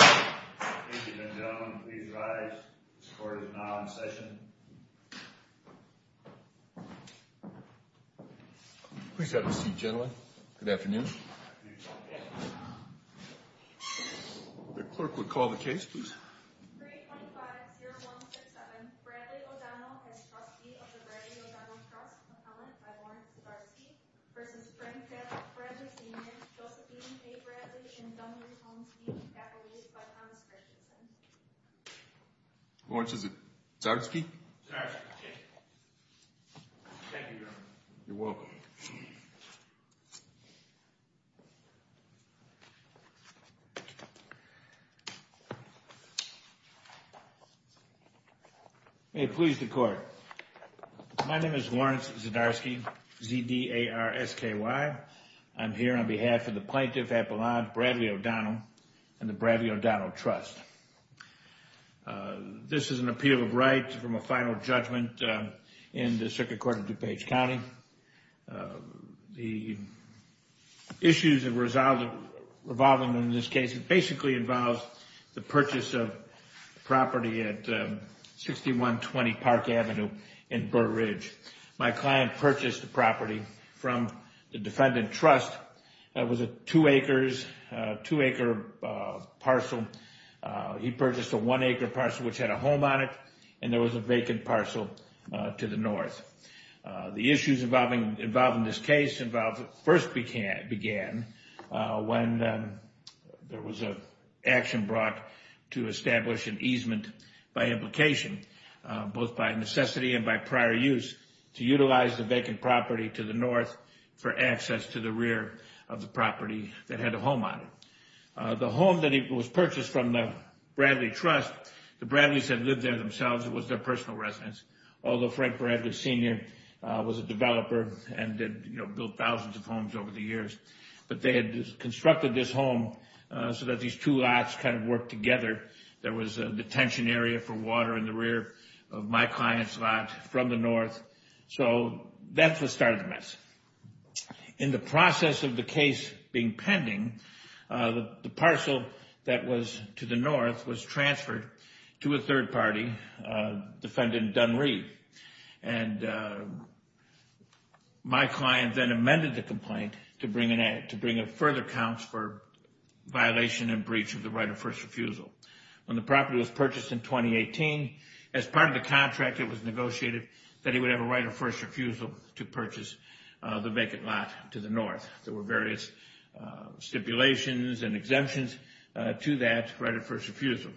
Ladies and gentlemen, please rise. This court is now in session. Please have a seat, gentlemen. Good afternoon. The clerk will call the case, please. 325-0167. Bradley O'Donnell, as trustee of the Bradley O'Donnell Trust, appellant by Lawrence Zarsky, v. Frank Fredrick, Fredrick Sr., Josephine A. Bradley, and Douglas Holmesby, appellate by Thomas Richardson. Lawrence Zarsky? Zarsky, yes. Thank you, Your Honor. You're welcome. May it please the Court. My name is Lawrence Zarsky, Z-D-A-R-S-K-Y. I'm here on behalf of the plaintiff appellant, Bradley O'Donnell, and the Bradley O'Donnell Trust. This is an appeal of right from a final judgment in the Circuit Court of DuPage County. The issues that revolve in this case basically involve the purchase of property at 6120 Park Avenue in Burr Ridge. My client purchased the property from the defendant trust. It was a two-acre parcel. He purchased a one-acre parcel, which had a home on it, and there was a vacant parcel to the north. The issues involving this case first began when there was an action brought to establish an easement by implication, both by necessity and by prior use, to utilize the vacant property to the north for access to the rear of the property that had a home on it. The home that was purchased from the Bradley Trust, the Bradleys had lived there themselves. It was their personal residence, although Frank Bradley Sr. was a developer and had built thousands of homes over the years. But they had constructed this home so that these two lots kind of worked together. There was a detention area for water in the rear of my client's lot from the north. So that's what started the mess. In the process of the case being pending, the parcel that was to the north was transferred to a third party, defendant Dunree. And my client then amended the complaint to bring in further counts for violation and breach of the right of first refusal. When the property was purchased in 2018, as part of the contract, it was negotiated that he would have a right of first refusal to purchase the vacant lot to the north. There were various stipulations and exemptions to that right of first refusal.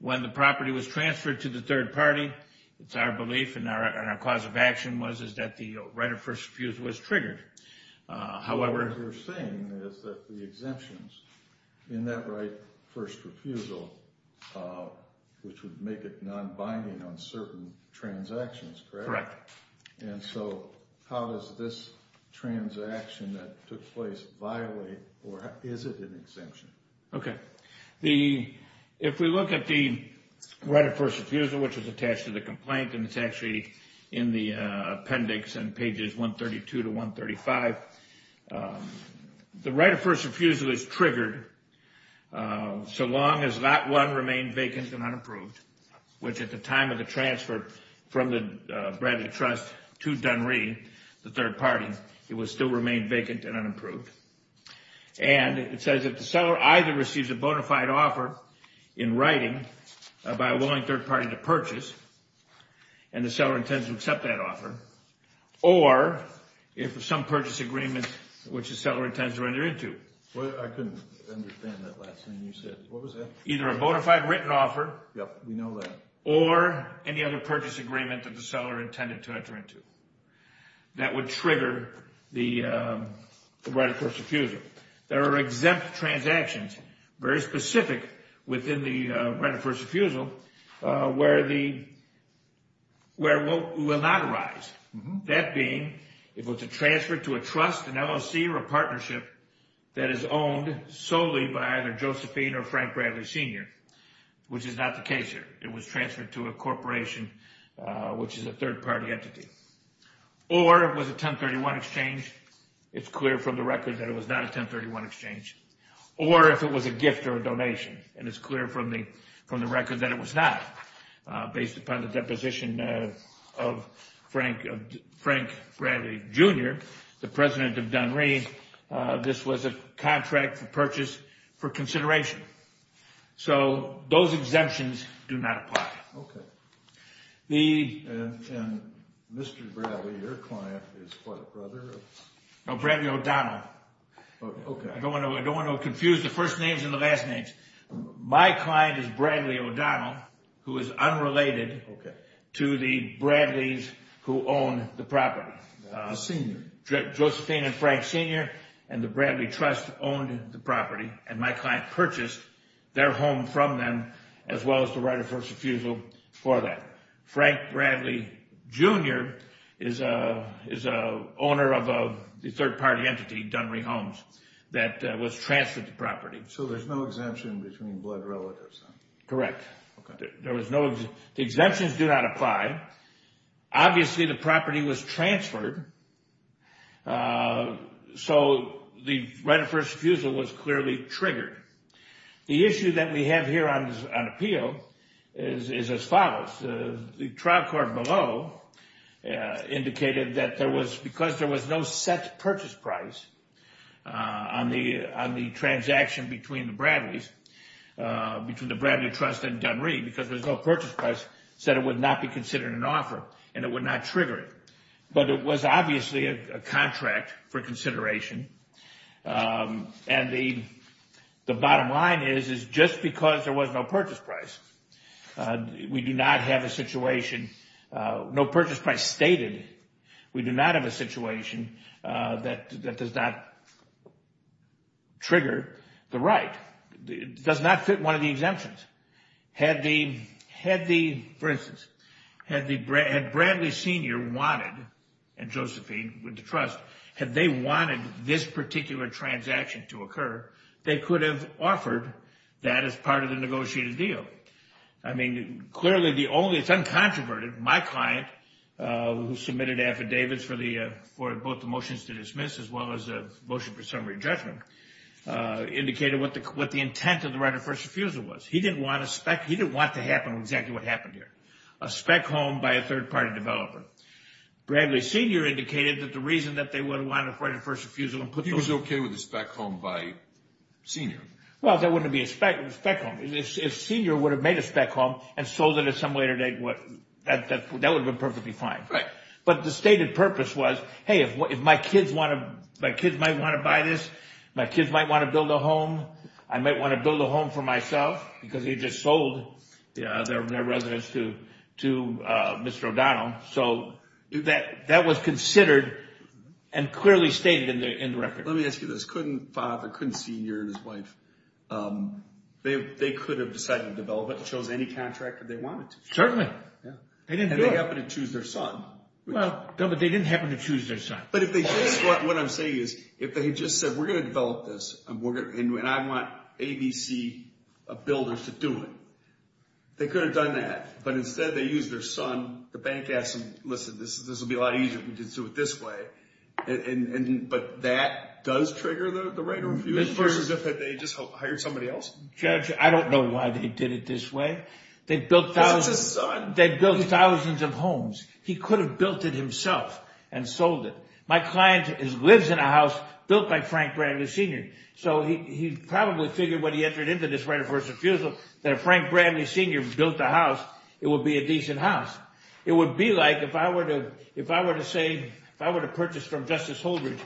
When the property was transferred to the third party, it's our belief and our cause of action was that the right of first refusal was triggered. What you're saying is that the exemptions in that right of first refusal, which would make it non-binding on certain transactions, correct? And so how does this transaction that took place violate, or is it an exemption? If we look at the right of first refusal, which is attached to the complaint, and it's actually in the appendix in pages 132 to 135, the right of first refusal is triggered so long as Lot 1 remained vacant and unapproved, which at the time of the transfer from the Bradley Trust to Dunree, the third party, it would still remain vacant and unapproved. And it says that the seller either receives a bona fide offer in writing by a willing third party to purchase, and the seller intends to accept that offer, or if some purchase agreement which the seller intends to enter into. I couldn't understand that last thing you said. What was that? Either a bona fide written offer, or any other purchase agreement that the seller intended to enter into. That would trigger the right of first refusal. There are exempt transactions, very specific within the right of first refusal, where it will not arise. That being, if it's a transfer to a trust, an LLC, or a partnership that is owned solely by either Josephine or Frank Bradley Sr., which is not the case here. It was transferred to a corporation, which is a third party entity. Or it was a 1031 exchange. It's clear from the record that it was not a 1031 exchange. Or if it was a gift or a donation, and it's clear from the record that it was not, based upon the deposition of Frank Bradley Jr., the president of Dunree, this was a contract for purchase for consideration. So those exemptions do not apply. Okay. And Mr. Bradley, your client, is what, a brother? No, Bradley O'Donnell. Okay. I don't want to confuse the first names and the last names. My client is Bradley O'Donnell, who is unrelated to the Bradleys who own the property. The Sr. and the Bradley Trust owned the property, and my client purchased their home from them, as well as the right of first refusal for that. Frank Bradley Jr. is an owner of a third party entity, Dunree Homes, that was transferred the property. So there's no exemption between blood relatives? Correct. Okay. The exemptions do not apply. Obviously, the property was transferred, so the right of first refusal was clearly triggered. The issue that we have here on appeal is as follows. The trial court below indicated that because there was no set purchase price on the transaction between the Bradleys, between the Bradley Trust and Dunree, because there was no purchase price, said it would not be considered an offer, and it would not trigger it. But it was obviously a contract for consideration, and the bottom line is, is just because there was no purchase price, we do not have a situation, no purchase price stated. We do not have a situation that does not trigger the right. It does not fit one of the exemptions. Had the, for instance, had Bradley Sr. wanted, and Josephine with the Trust, had they wanted this particular transaction to occur, they could have offered that as part of the negotiated deal. I mean, clearly the only, it's uncontroverted. My client, who submitted affidavits for both the motions to dismiss as well as the motion for summary judgment, indicated what the intent of the right of first refusal was. He didn't want a spec, he didn't want to happen exactly what happened here. A spec home by a third-party developer. Bradley Sr. indicated that the reason that they would have wanted a right of first refusal and put those He was okay with a spec home by Sr. Well, if that wouldn't have been a spec home. If Sr. would have made a spec home and sold it at some later date, that would have been perfectly fine. But the stated purpose was, hey, if my kids might want to buy this, my kids might want to build a home, I might want to build a home for myself, because he just sold their residence to Mr. O'Donnell. So that was considered and clearly stated in the record. Let me ask you this. Sr. and his wife, they could have decided to develop it and chose any contractor they wanted to. Certainly. And they happened to choose their son. Well, they didn't happen to choose their son. But what I'm saying is, if they had just said, we're going to develop this, and I want ABC builders to do it, they could have done that. But instead they used their son, the bank asked them, listen, this will be a lot easier if we do it this way. But that does trigger the right of refusal, versus if they just hired somebody else? Judge, I don't know why they did it this way. That's his son. They built thousands of homes. He could have built it himself and sold it. My client lives in a house built by Frank Bradley Sr. So he probably figured when he entered into this right of refusal that if Frank Bradley Sr. built the house, it would be a decent house. It would be like if I were to say, if I were to purchase from Justice Holdren,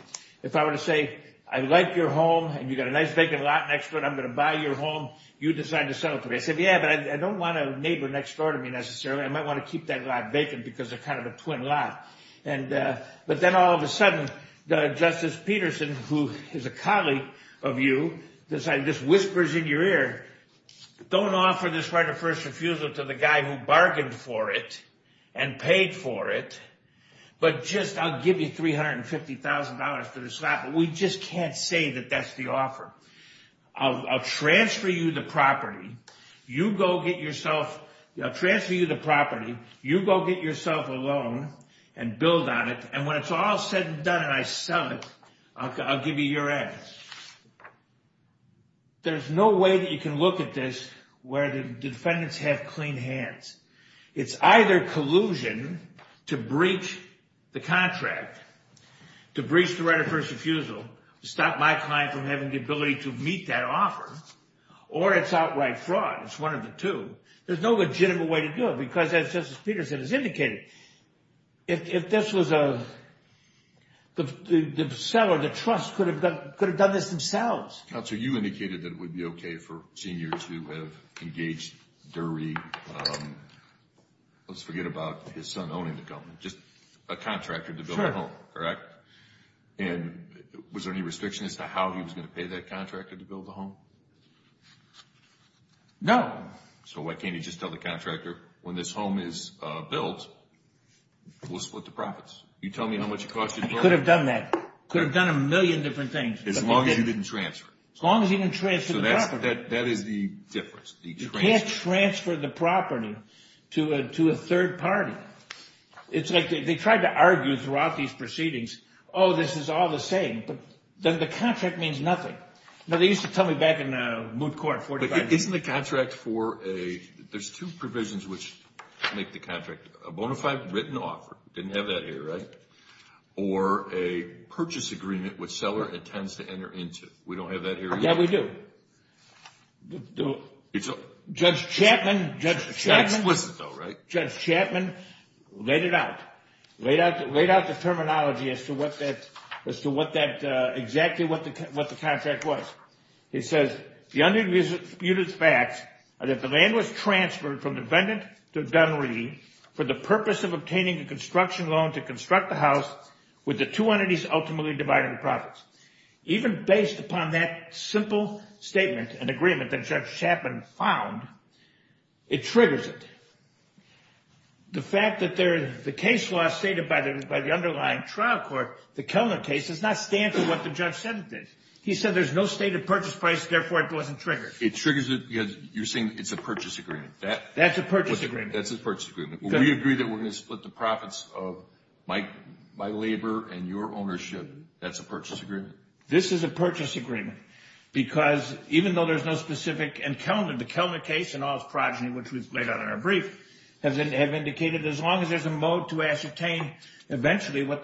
if I were to say, I like your home, and you've got a nice vacant lot next door, and I'm going to buy your home, you decide to sell it to me. I said, yeah, but I don't want a neighbor next door to me necessarily. I might want to keep that lot vacant because they're kind of a twin lot. But then all of a sudden, Justice Peterson, who is a colleague of you, decided, this whispers in your ear, don't offer this right of first refusal to the guy who bargained for it and paid for it, but just I'll give you $350,000 for this lot. But we just can't say that that's the offer. I'll transfer you the property. You go get yourself. I'll transfer you the property. You go get yourself a loan and build on it. And when it's all said and done and I sell it, I'll give you your end. There's no way that you can look at this where the defendants have clean hands. It's either collusion to breach the contract, to breach the right of first refusal, to stop my client from having the ability to meet that offer, or it's outright fraud. It's one of the two. There's no legitimate way to do it because, as Justice Peterson has indicated, if this was a, the seller, the trust, could have done this themselves. Counselor, you indicated that it would be okay for seniors who have engaged, dirty, let's forget about his son owning the company, just a contractor to build a home, correct? Sure. And was there any restriction as to how he was going to pay that contractor to build the home? No. So why can't he just tell the contractor, when this home is built, we'll split the profits? You tell me how much it costs you to build it. I could have done that. I could have done a million different things. As long as he didn't transfer it. As long as he didn't transfer the property. So that is the difference. You can't transfer the property to a third party. It's like they tried to argue throughout these proceedings, oh, this is all the same. But the contract means nothing. Now, they used to tell me back in Moot Court in 45 years. Isn't the contract for a, there's two provisions which make the contract. A bona fide written offer. Didn't have that here, right? Or a purchase agreement which seller intends to enter into. We don't have that here either? Yeah, we do. Judge Chapman, Judge Chapman. That's explicit though, right? Judge Chapman laid it out. Laid out the terminology as to what that, as to what that, exactly what the contract was. He says, the undisputed facts are that the land was transferred from defendant to gunnery for the purpose of obtaining a construction loan to construct the house with the two entities ultimately dividing the profits. Even based upon that simple statement and agreement that Judge Chapman found, it triggers it. The fact that there, the case law stated by the underlying trial court, the Kellner case, does not stand for what the judge said it did. He said there's no stated purchase price, therefore it wasn't triggered. It triggers it because you're saying it's a purchase agreement. That's a purchase agreement. That's a purchase agreement. We agree that we're going to split the profits of my labor and your ownership. That's a purchase agreement. This is a purchase agreement because even though there's no specific, and Kellner, the Kellner case and all its progeny, which was laid out in our brief, have indicated as long as there's a mode to ascertain eventually what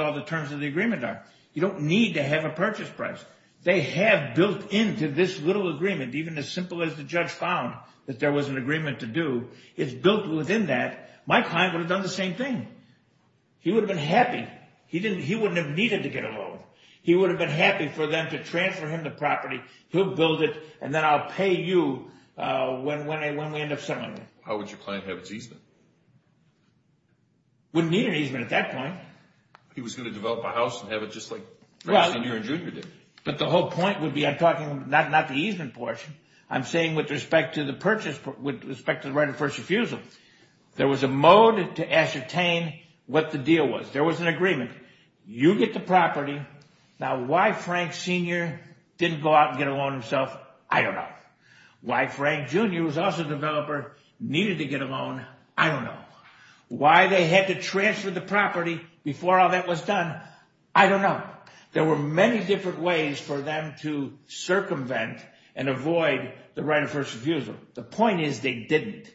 all the terms of the agreement are. You don't need to have a purchase price. They have built into this little agreement, even as simple as the judge found, that there was an agreement to do. It's built within that. Mike Heim would have done the same thing. He would have been happy. He wouldn't have needed to get a loan. He would have been happy for them to transfer him the property. He'll build it, and then I'll pay you when we end up settling it. How would your client have its easement? Wouldn't need an easement at that point. He was going to develop a house and have it just like Frank Sr. and Jr. did. But the whole point would be I'm talking not the easement portion. I'm saying with respect to the purchase, with respect to the right of first refusal, there was a mode to ascertain what the deal was. There was an agreement. You get the property. Now, why Frank Sr. didn't go out and get a loan himself, I don't know. Why Frank Jr., who was also a developer, needed to get a loan, I don't know. Why they had to transfer the property before all that was done, I don't know. There were many different ways for them to circumvent and avoid the right of first refusal. The point is they didn't,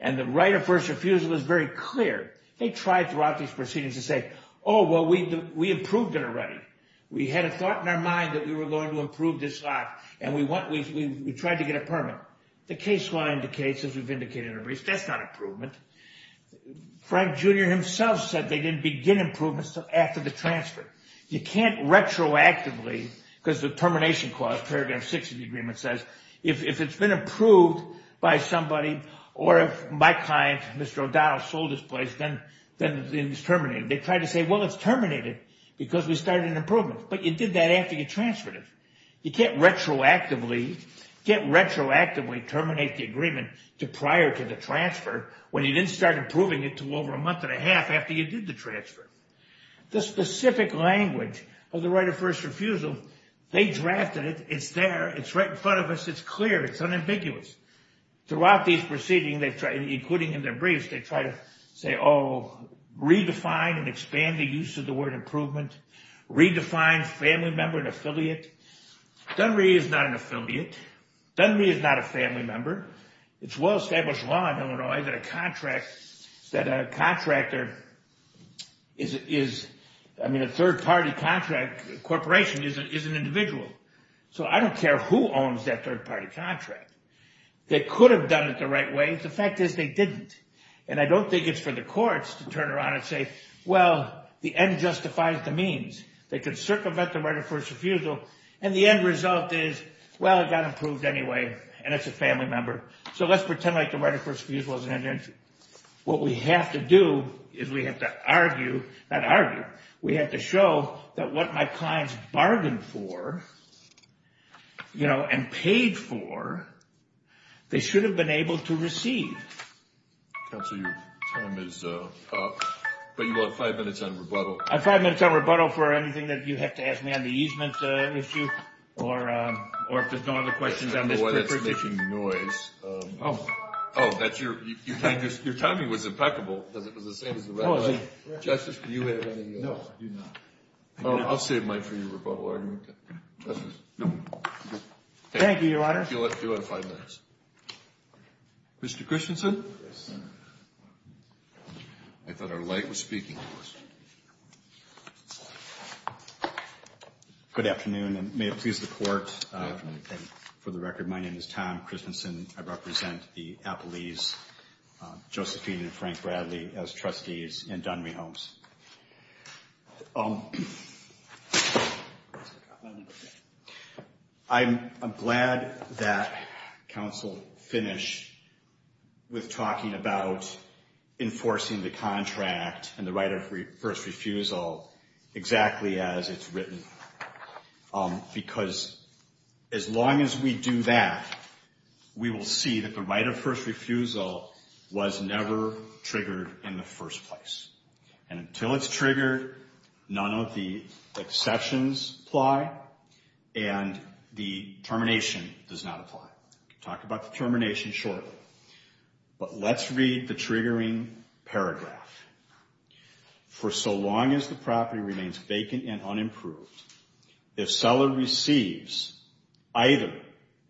and the right of first refusal is very clear. They tried throughout these proceedings to say, oh, well, we improved it already. We had a thought in our mind that we were going to improve this lot, and we tried to get a permit. The case law indicates, as we've indicated in our briefs, that's not improvement. Frank Jr. himself said they didn't begin improvements after the transfer. You can't retroactively, because the termination clause, Paragraph 6 of the agreement says, if it's been approved by somebody or if my client, Mr. O'Donnell, sold this place, then it's terminated. They tried to say, well, it's terminated because we started an improvement, but you did that after you transferred it. You can't retroactively terminate the agreement prior to the transfer when you didn't start improving it to over a month and a half after you did the transfer. The specific language of the right of first refusal, they drafted it. It's there. It's right in front of us. It's clear. It's unambiguous. Throughout these proceedings, including in their briefs, they try to say, oh, redefine and expand the use of the word improvement, redefine family member and affiliate. Dunree is not an affiliate. Dunree is not a family member. It's well-established law in Illinois that a contractor is, I mean, a third-party contract corporation is an individual. So I don't care who owns that third-party contract. They could have done it the right way. The fact is, they didn't. And I don't think it's for the courts to turn around and say, well, the end justifies the means. They could circumvent the right of first refusal, and the end result is, well, it got improved anyway, and it's a family member. So let's pretend like the right of first refusal isn't an issue. What we have to do is we have to argue, not argue, we have to show that what my clients bargained for, you know, and paid for, they should have been able to receive. Counsel, your time is up, but you will have five minutes on rebuttal. I have five minutes on rebuttal for anything that you have to ask me on the easement issue or if there's no other questions on this presentation. I don't know why that's making noise. Oh. Oh, your timing was impeccable because it was the same as the rebuttal. Oh, is it? Justice, do you have anything else? No, I do not. I'll save mine for your rebuttal argument, then. Justice? No. Thank you, Your Honor. You'll have two out of five minutes. Mr. Christensen? Yes, sir. I thought our light was speaking to us. Good afternoon, and may it please the Court. And for the record, my name is Tom Christensen. I represent the Appellees, Josephine and Frank Bradley, as trustees in Dunry Homes. I'm glad that counsel finished with talking about enforcing the contract and the right of first refusal exactly as it's written. Because as long as we do that, we will see that the right of first refusal was never triggered in the first place. And until it's triggered, none of the exceptions apply, and the termination does not apply. We'll talk about the termination shortly. But let's read the triggering paragraph. For so long as the property remains vacant and unimproved, if seller receives either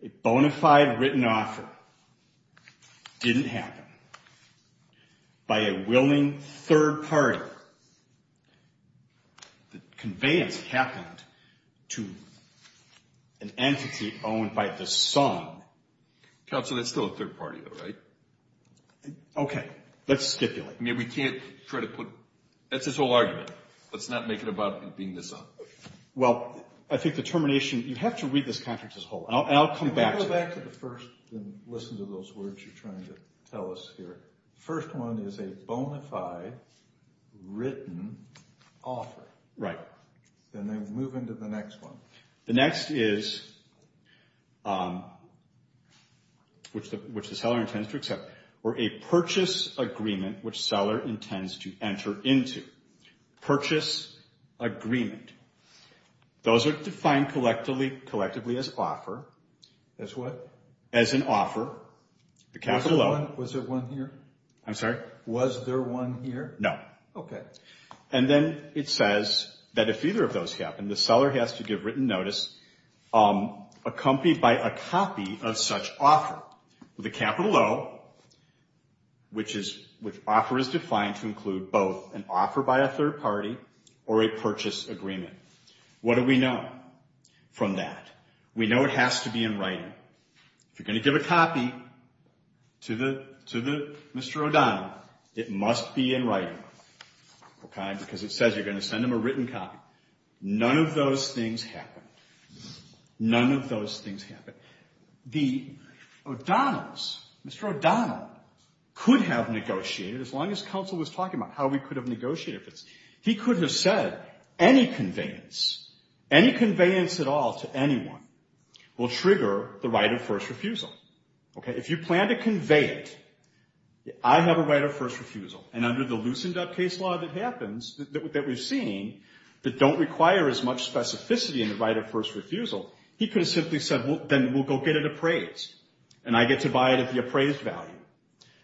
a bona fide written offer, didn't happen, by a willing third party, the conveyance happened to an entity owned by the son. Counsel, that's still a third party, though, right? Okay. Let's stipulate. I mean, we can't try to put – that's this whole argument. Let's not make it about being the son. Well, I think the termination – you have to read this contract as a whole, and I'll come back to it. Let's go back to the first and listen to those words you're trying to tell us here. The first one is a bona fide written offer. Right. And then move into the next one. The next is, which the seller intends to accept, or a purchase agreement, which seller intends to enter into. Purchase agreement. Those are defined collectively as offer. As what? As an offer, the capital O. Was there one here? I'm sorry? Was there one here? No. Okay. And then it says that if either of those happen, the seller has to give written notice accompanied by a copy of such offer, with a capital O, which is – which offer is defined to include both an offer by a third party or a purchase agreement. What do we know from that? We know it has to be in writing. If you're going to give a copy to Mr. O'Donnell, it must be in writing. Okay? Because it says you're going to send him a written copy. None of those things happen. None of those things happen. The O'Donnells, Mr. O'Donnell, could have negotiated, as long as counsel was talking about how we could have negotiated this, he could have said any conveyance, any conveyance at all to anyone will trigger the right of first refusal. Okay? If you plan to convey it, I have a right of first refusal, and under the loosened up case law that happens, that we've seen, that don't require as much specificity in the right of first refusal, he could have simply said, well, then we'll go get it appraised, and I get to buy it at the appraised value.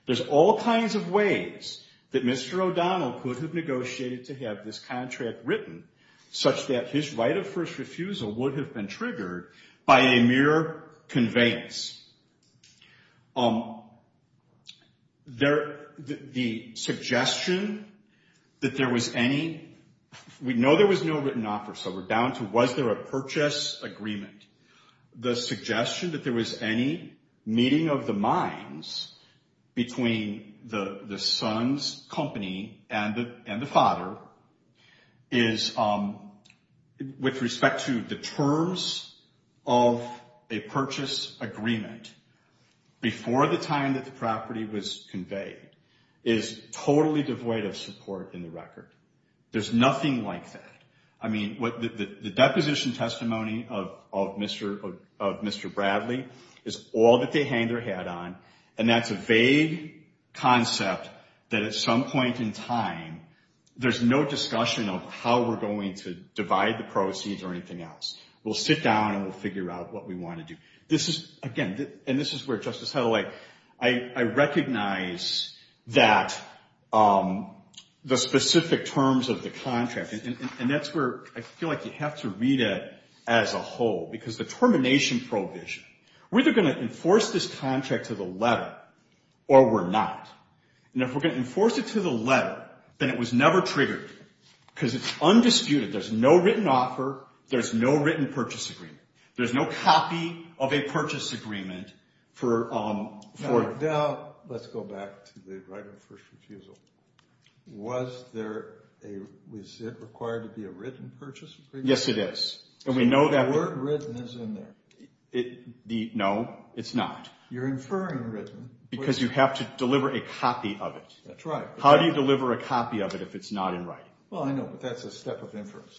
There's all kinds of ways that Mr. O'Donnell could have negotiated to have this contract written, such that his right of first refusal would have been triggered by a mere conveyance. The suggestion that there was any – we know there was no written offer, so we're down to was there a purchase agreement. The suggestion that there was any meeting of the minds between the son's company and the father is, with respect to the terms of a purchase agreement, before the time that the property was conveyed, is totally devoid of support in the record. There's nothing like that. I mean, the deposition testimony of Mr. Bradley is all that they hang their hat on, and that's a vague concept that at some point in time, there's no discussion of how we're going to divide the proceeds or anything else. We'll sit down, and we'll figure out what we want to do. This is, again, and this is where Justice Helley, I recognize that the specific terms of the contract, and that's where I feel like you have to read it as a whole because the termination provision, we're either going to enforce this contract to the letter or we're not. And if we're going to enforce it to the letter, then it was never triggered because it's undisputed. There's no written offer. There's no written purchase agreement. There's no copy of a purchase agreement for – Now, let's go back to the right of first refusal. Was there a – was it required to be a written purchase agreement? Yes, it is. And we know that – So the word written is in there. No, it's not. You're inferring written. Because you have to deliver a copy of it. That's right. How do you deliver a copy of it if it's not in writing? Well, I know, but that's a step of inference.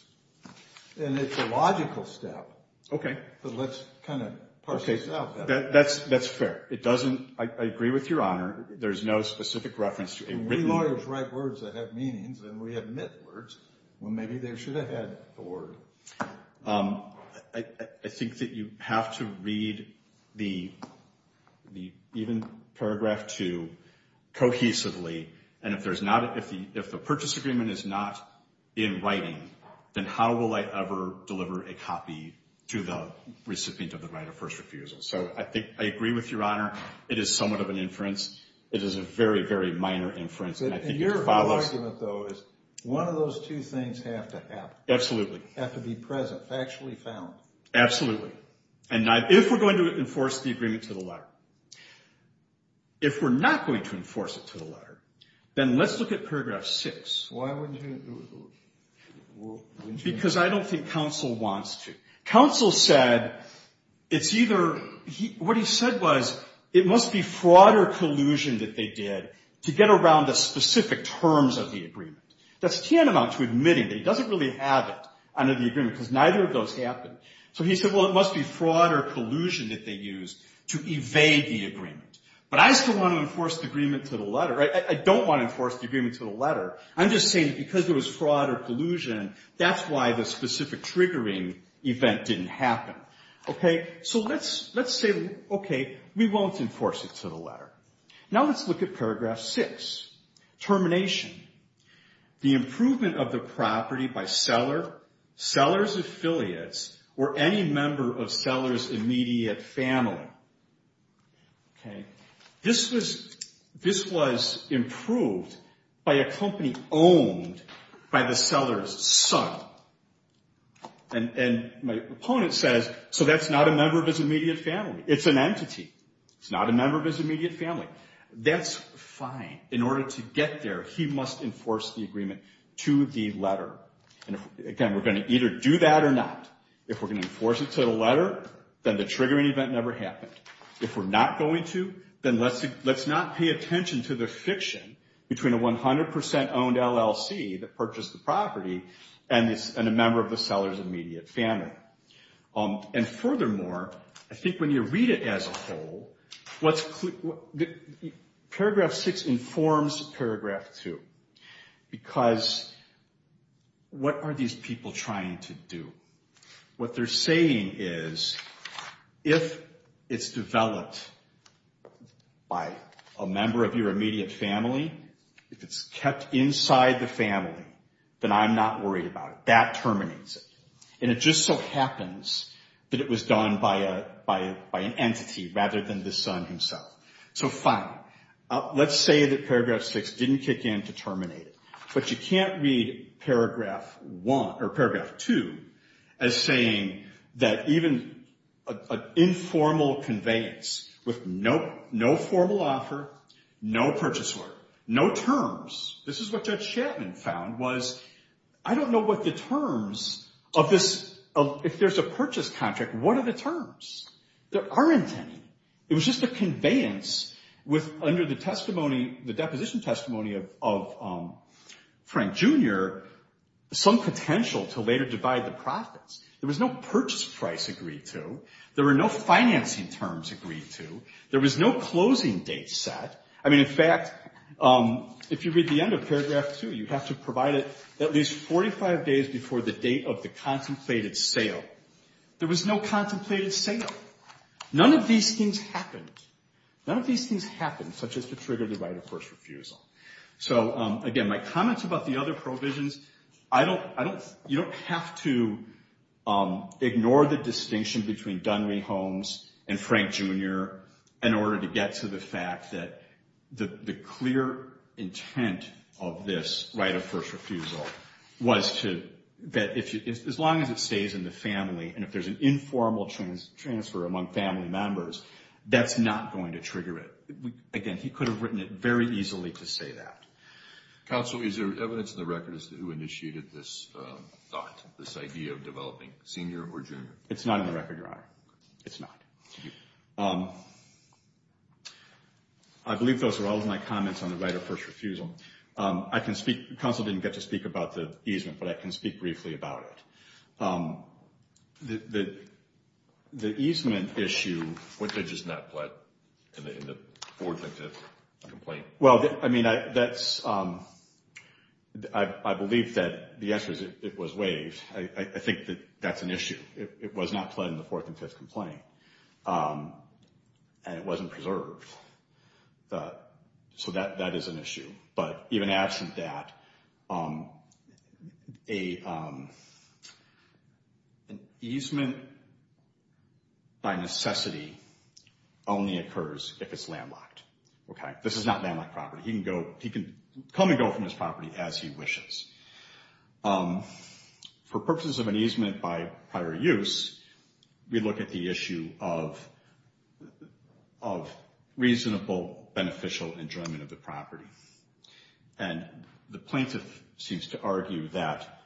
And it's a logical step. Okay. But let's kind of parse this out. That's fair. It doesn't – I agree with Your Honor. There's no specific reference to a written – We lawyers write words that have meanings, and we admit words. Well, maybe they should have had the word. I think that you have to read the even paragraph 2 cohesively. And if there's not – if the purchase agreement is not in writing, then how will I ever deliver a copy to the recipient of the right of first refusal? So I think I agree with Your Honor. It is somewhat of an inference. It is a very, very minor inference, and I think it follows. Your argument, though, is one of those two things have to happen. Absolutely. Have to be present, factually found. Absolutely. And if we're going to enforce the agreement to the letter, if we're not going to enforce it to the letter, then let's look at paragraph 6. Why wouldn't you? Because I don't think counsel wants to. Counsel said it's either – what he said was it must be fraud or collusion that they did to get around the specific terms of the agreement. That's tantamount to admitting that he doesn't really have it under the agreement because neither of those happened. So he said, well, it must be fraud or collusion that they used to evade the agreement. But I still want to enforce the agreement to the letter. I don't want to enforce the agreement to the letter. I'm just saying because there was fraud or collusion, that's why the specific triggering event didn't happen. So let's say, okay, we won't enforce it to the letter. Now let's look at paragraph 6. Termination. The improvement of the property by seller, seller's affiliates, or any member of seller's immediate family. Okay. This was improved by a company owned by the seller's son. And my opponent says, so that's not a member of his immediate family. It's an entity. It's not a member of his immediate family. That's fine. In order to get there, he must enforce the agreement to the letter. And, again, we're going to either do that or not. If we're going to enforce it to the letter, then the triggering event never happened. If we're not going to, then let's not pay attention to the fiction between a 100% owned LLC that purchased the property and a member of the seller's immediate family. And, furthermore, I think when you read it as a whole, paragraph 6 informs paragraph 2. Because what are these people trying to do? What they're saying is if it's developed by a member of your immediate family, if it's kept inside the family, then I'm not worried about it. That terminates it. And it just so happens that it was done by an entity rather than the son himself. So, fine. Let's say that paragraph 6 didn't kick in to terminate it. But you can't read paragraph 1, or paragraph 2, as saying that even an informal conveyance with no formal offer, no purchase order, no terms. This is what Judge Chapman found was, I don't know what the terms of this, if there's a purchase contract, what are the terms? There aren't any. It was just a conveyance with, under the testimony, the deposition testimony of Frank Jr., some potential to later divide the profits. There was no purchase price agreed to. There were no financing terms agreed to. There was no closing date set. I mean, in fact, if you read the end of paragraph 2, you have to provide it at least 45 days before the date of the contemplated sale. There was no contemplated sale. None of these things happened. None of these things happened, such as to trigger the right of first refusal. So, again, my comments about the other provisions, you don't have to ignore the distinction between Dunwee Holmes and Frank Jr. in order to get to the fact that the clear intent of this right of first refusal was to, as long as it stays in the family, and if there's an informal transfer among family members, that's not going to trigger it. Again, he could have written it very easily to say that. Counsel, is there evidence in the record as to who initiated this thought, this idea of developing senior or junior? It's not in the record, Your Honor. It's not. I believe those are all of my comments on the right of first refusal. Counsel didn't get to speak about the easement, but I can speak briefly about it. The easement issue. Which was not pled in the fourth and fifth complaint. Well, I mean, I believe that the answer is it was waived. I think that that's an issue. It was not pled in the fourth and fifth complaint. And it wasn't preserved. So that is an issue. But even absent that, an easement by necessity only occurs if it's landlocked. This is not landlocked property. He can come and go from his property as he wishes. For purposes of an easement by prior use, we look at the issue of reasonable beneficial enjoyment of the property. And the plaintiff seems to argue that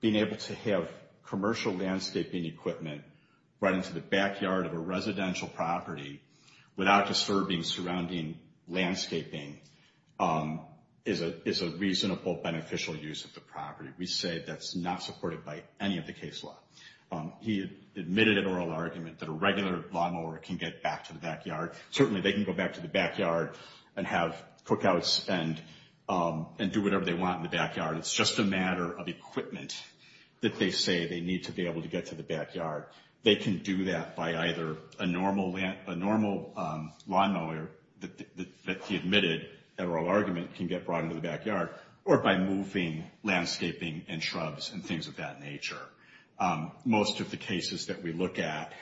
being able to have commercial landscaping equipment right into the backyard of a residential property without disturbing surrounding landscaping is a reasonable, beneficial use of the property. We say that's not supported by any of the case law. He admitted an oral argument that a regular lawn mower can get back to the backyard. Certainly they can go back to the backyard and have cookouts and do whatever they want in the backyard. It's just a matter of equipment that they say they need to be able to get to the backyard. They can do that by either a normal lawn mower that he admitted, an oral argument, can get brought into the backyard, or by moving landscaping and shrubs and things of that nature. Most of the cases that we look at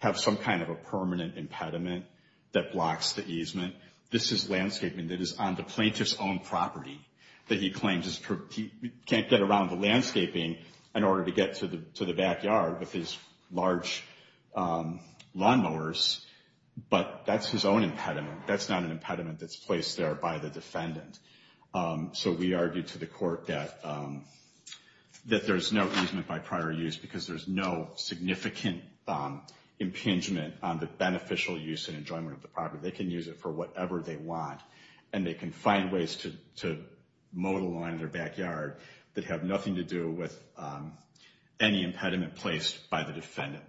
have some kind of a permanent impediment that blocks the easement. This is landscaping that is on the plaintiff's own property that he claims he can't get around the landscaping in order to get to the backyard with his large lawn mowers, but that's his own impediment. That's not an impediment that's placed there by the defendant. So we argue to the court that there's no easement by prior use because there's no significant impingement on the beneficial use and enjoyment of the property. They can use it for whatever they want, and they can find ways to mow the lawn in their backyard that have nothing to do with any impediment placed by the defendant.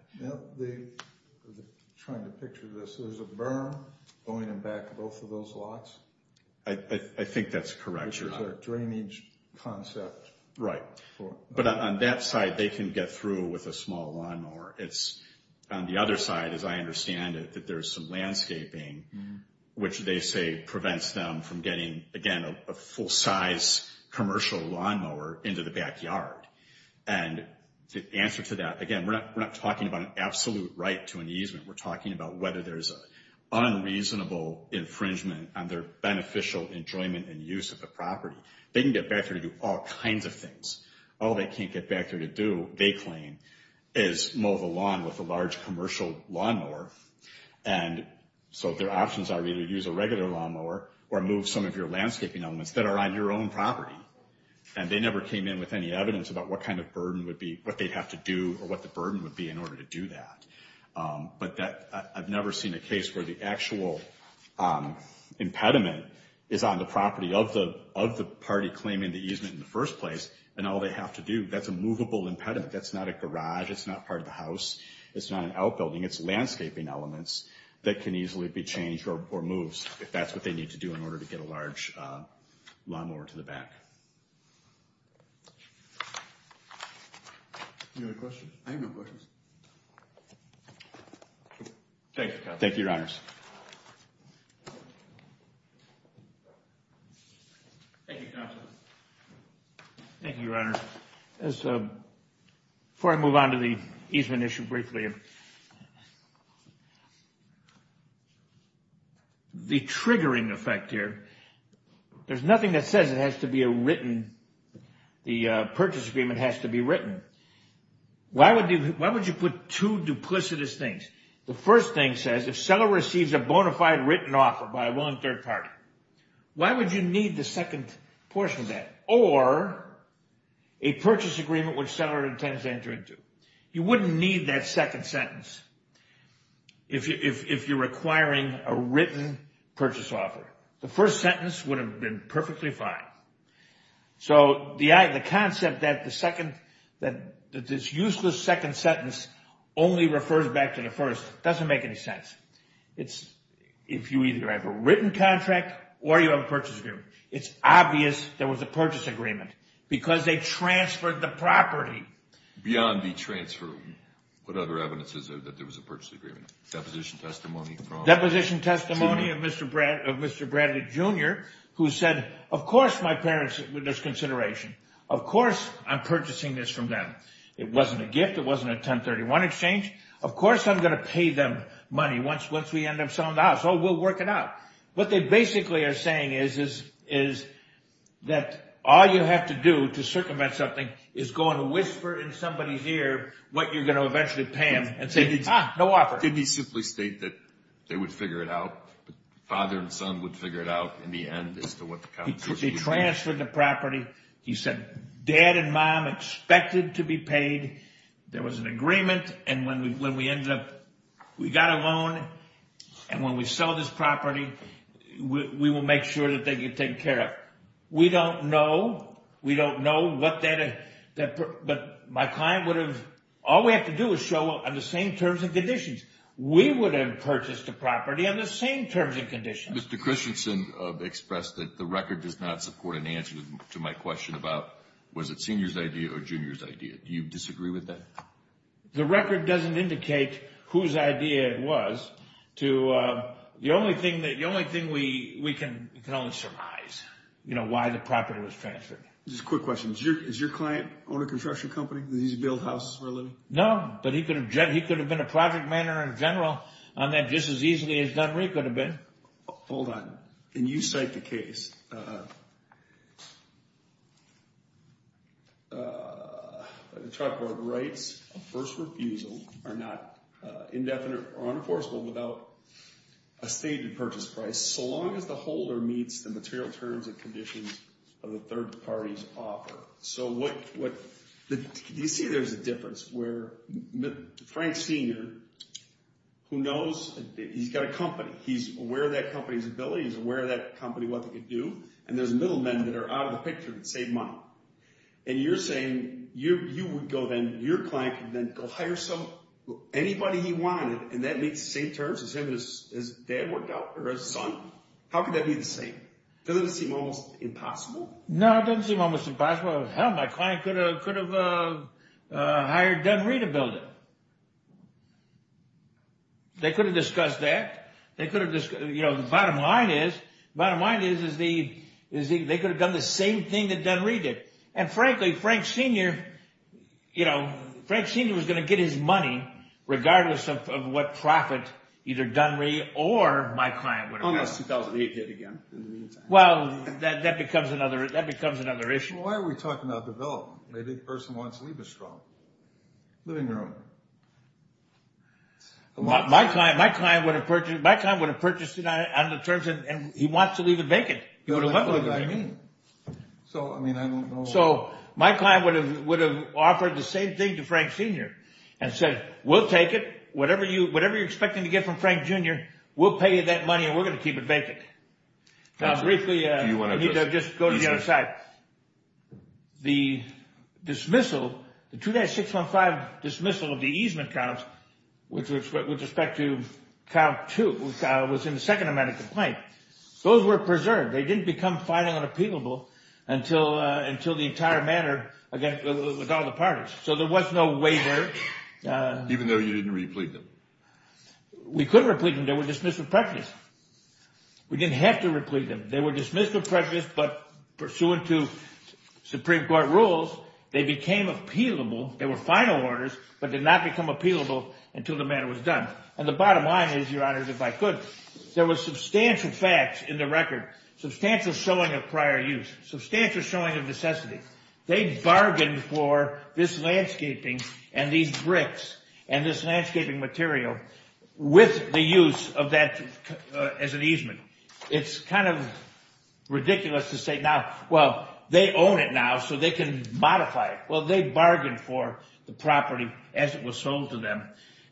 I'm trying to picture this. There's a berm going in back of both of those lots? I think that's correct. Which is a drainage concept. Right. But on that side, they can get through with a small lawn mower. It's on the other side, as I understand it, that there's some landscaping, which they say prevents them from getting, again, a full-size commercial lawn mower into the backyard. And the answer to that, again, we're not talking about an absolute right to an easement. We're talking about whether there's an unreasonable infringement on their beneficial enjoyment and use of the property. They can get back there to do all kinds of things. All they can't get back there to do, they claim, is mow the lawn with a large commercial lawn mower. And so their options are either use a regular lawn mower or move some of your landscaping elements that are on your own property. And they never came in with any evidence about what kind of burden would be, what they'd have to do or what the burden would be in order to do that. But I've never seen a case where the actual impediment is on the property of the party claiming the easement in the first place and all they have to do. That's a movable impediment. That's not a garage. It's not part of the house. It's not an outbuilding. It's landscaping elements that can easily be changed or moved if that's what they need to do in order to get a large lawn mower to the back. Any other questions? I have no questions. Thank you, Counsel. Thank you, Your Honors. Thank you, Counsel. Thank you, Your Honors. Before I move on to the easement issue briefly, the triggering effect here, there's nothing that says it has to be a written, the purchase agreement has to be written. Why would you put two duplicitous things? The first thing says if a seller receives a bona fide written offer by a willing third party, why would you need the second portion of that? Or a purchase agreement which the seller intends to enter into. You wouldn't need that second sentence if you're requiring a written purchase offer. The first sentence would have been perfectly fine. So the concept that this useless second sentence only refers back to the first doesn't make any sense. If you either have a written contract or you have a purchase agreement, it's obvious there was a purchase agreement because they transferred the property. Beyond the transfer, what other evidence is there that there was a purchase agreement? Deposition testimony. Deposition testimony of Mr. Bradley, Jr., who said, of course my parents took this into consideration. Of course I'm purchasing this from them. It wasn't a gift. It wasn't a 1031 exchange. Of course I'm going to pay them money once we end up selling the house. Oh, we'll work it out. What they basically are saying is that all you have to do to circumvent something is go and whisper in somebody's ear what you're going to eventually pay them and say, ah, no offer. Didn't he simply state that they would figure it out, father and son would figure it out in the end as to what the consequences He transferred the property. He said, dad and mom expected to be paid. There was an agreement. And when we got a loan and when we sell this property, we will make sure that they get taken care of. We don't know. We don't know what that, but my client would have, all we have to do is show on the same terms and conditions. We would have purchased the property on the same terms and conditions. Mr. Christensen expressed that the record does not support an answer to my question about was it senior's idea or junior's idea. Do you disagree with that? The record doesn't indicate whose idea it was. The only thing we can only surmise, you know, why the property was transferred. Just a quick question. Is your client on a construction company? Does he build houses for a living? No, but he could have been a project manager in general on that just as easily as Dunree could have been. Hold on. Can you cite the case? The chart board writes a first refusal are not indefinite or unenforceable without a stated purchase price. So long as the holder meets the material terms and conditions of the third party's offer. So you see there's a difference where Frank Senior, who knows, he's got a company. He's aware of that company's ability. He's aware of that company, what they could do. And there's middle men that are out of the picture that save money. And you're saying you would go then, your client could then go hire anybody he wanted and that meets the same terms as him, as his dad worked out or his son. How could that be the same? Doesn't it seem almost impossible? No, it doesn't seem almost impossible. Hell, my client could have hired Dunree to build it. They could have discussed that. They could have, you know, the bottom line is, the bottom line is they could have done the same thing that Dunree did. And frankly, Frank Senior, you know, Frank Senior was going to get his money regardless of what profit either Dunree or my client would have gotten. Well, that becomes another issue. Why are we talking about development? Maybe the person wants to leave a strong living room. My client would have purchased it on the terms and he wants to leave it vacant. So my client would have offered the same thing to Frank Senior and said, we'll take it, whatever you're expecting to get from Frank Junior, we'll pay you that money and we're going to keep it vacant. Briefly, I need to just go to the other side. The dismissal, the 2-615 dismissal of the easement counts, with respect to count two, was in the second amendment complaint. Those were preserved. They didn't become filing unappealable until the entire matter, with all the parties. So there was no waiver. Even though you didn't replete them? We could replete them. They were dismissed with prejudice. We didn't have to replete them. They were dismissed with prejudice, but pursuant to Supreme Court rules, they became appealable. They were final orders, but did not become appealable until the matter was done. And the bottom line is, Your Honor, if I could, there was substantial facts in the record, substantial showing of prior use, substantial showing of necessity. They bargained for this landscaping and these bricks and this landscaping material with the use of that as an easement. It's kind of ridiculous to say now, well, they own it now so they can modify it. Well, they bargained for the property as it was sold to them.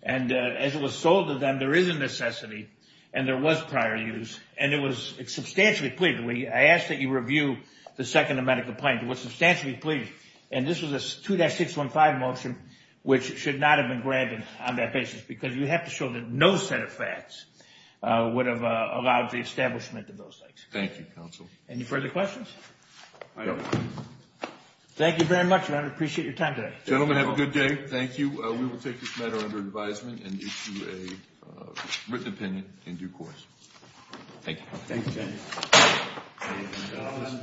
And as it was sold to them, there is a necessity and there was prior use. And it was substantially clear. I ask that you review the Second Amendment complaint. It was substantially clear. And this was a 2-615 motion, which should not have been granted on that basis because you have to show that no set of facts would have allowed the establishment of those things. Thank you, counsel. Any further questions? No. Thank you very much, Your Honor. I appreciate your time today. Gentlemen, have a good day. Thank you. We will take this matter under advisement and issue a written opinion in due course. Thank you. Thank you, Judge.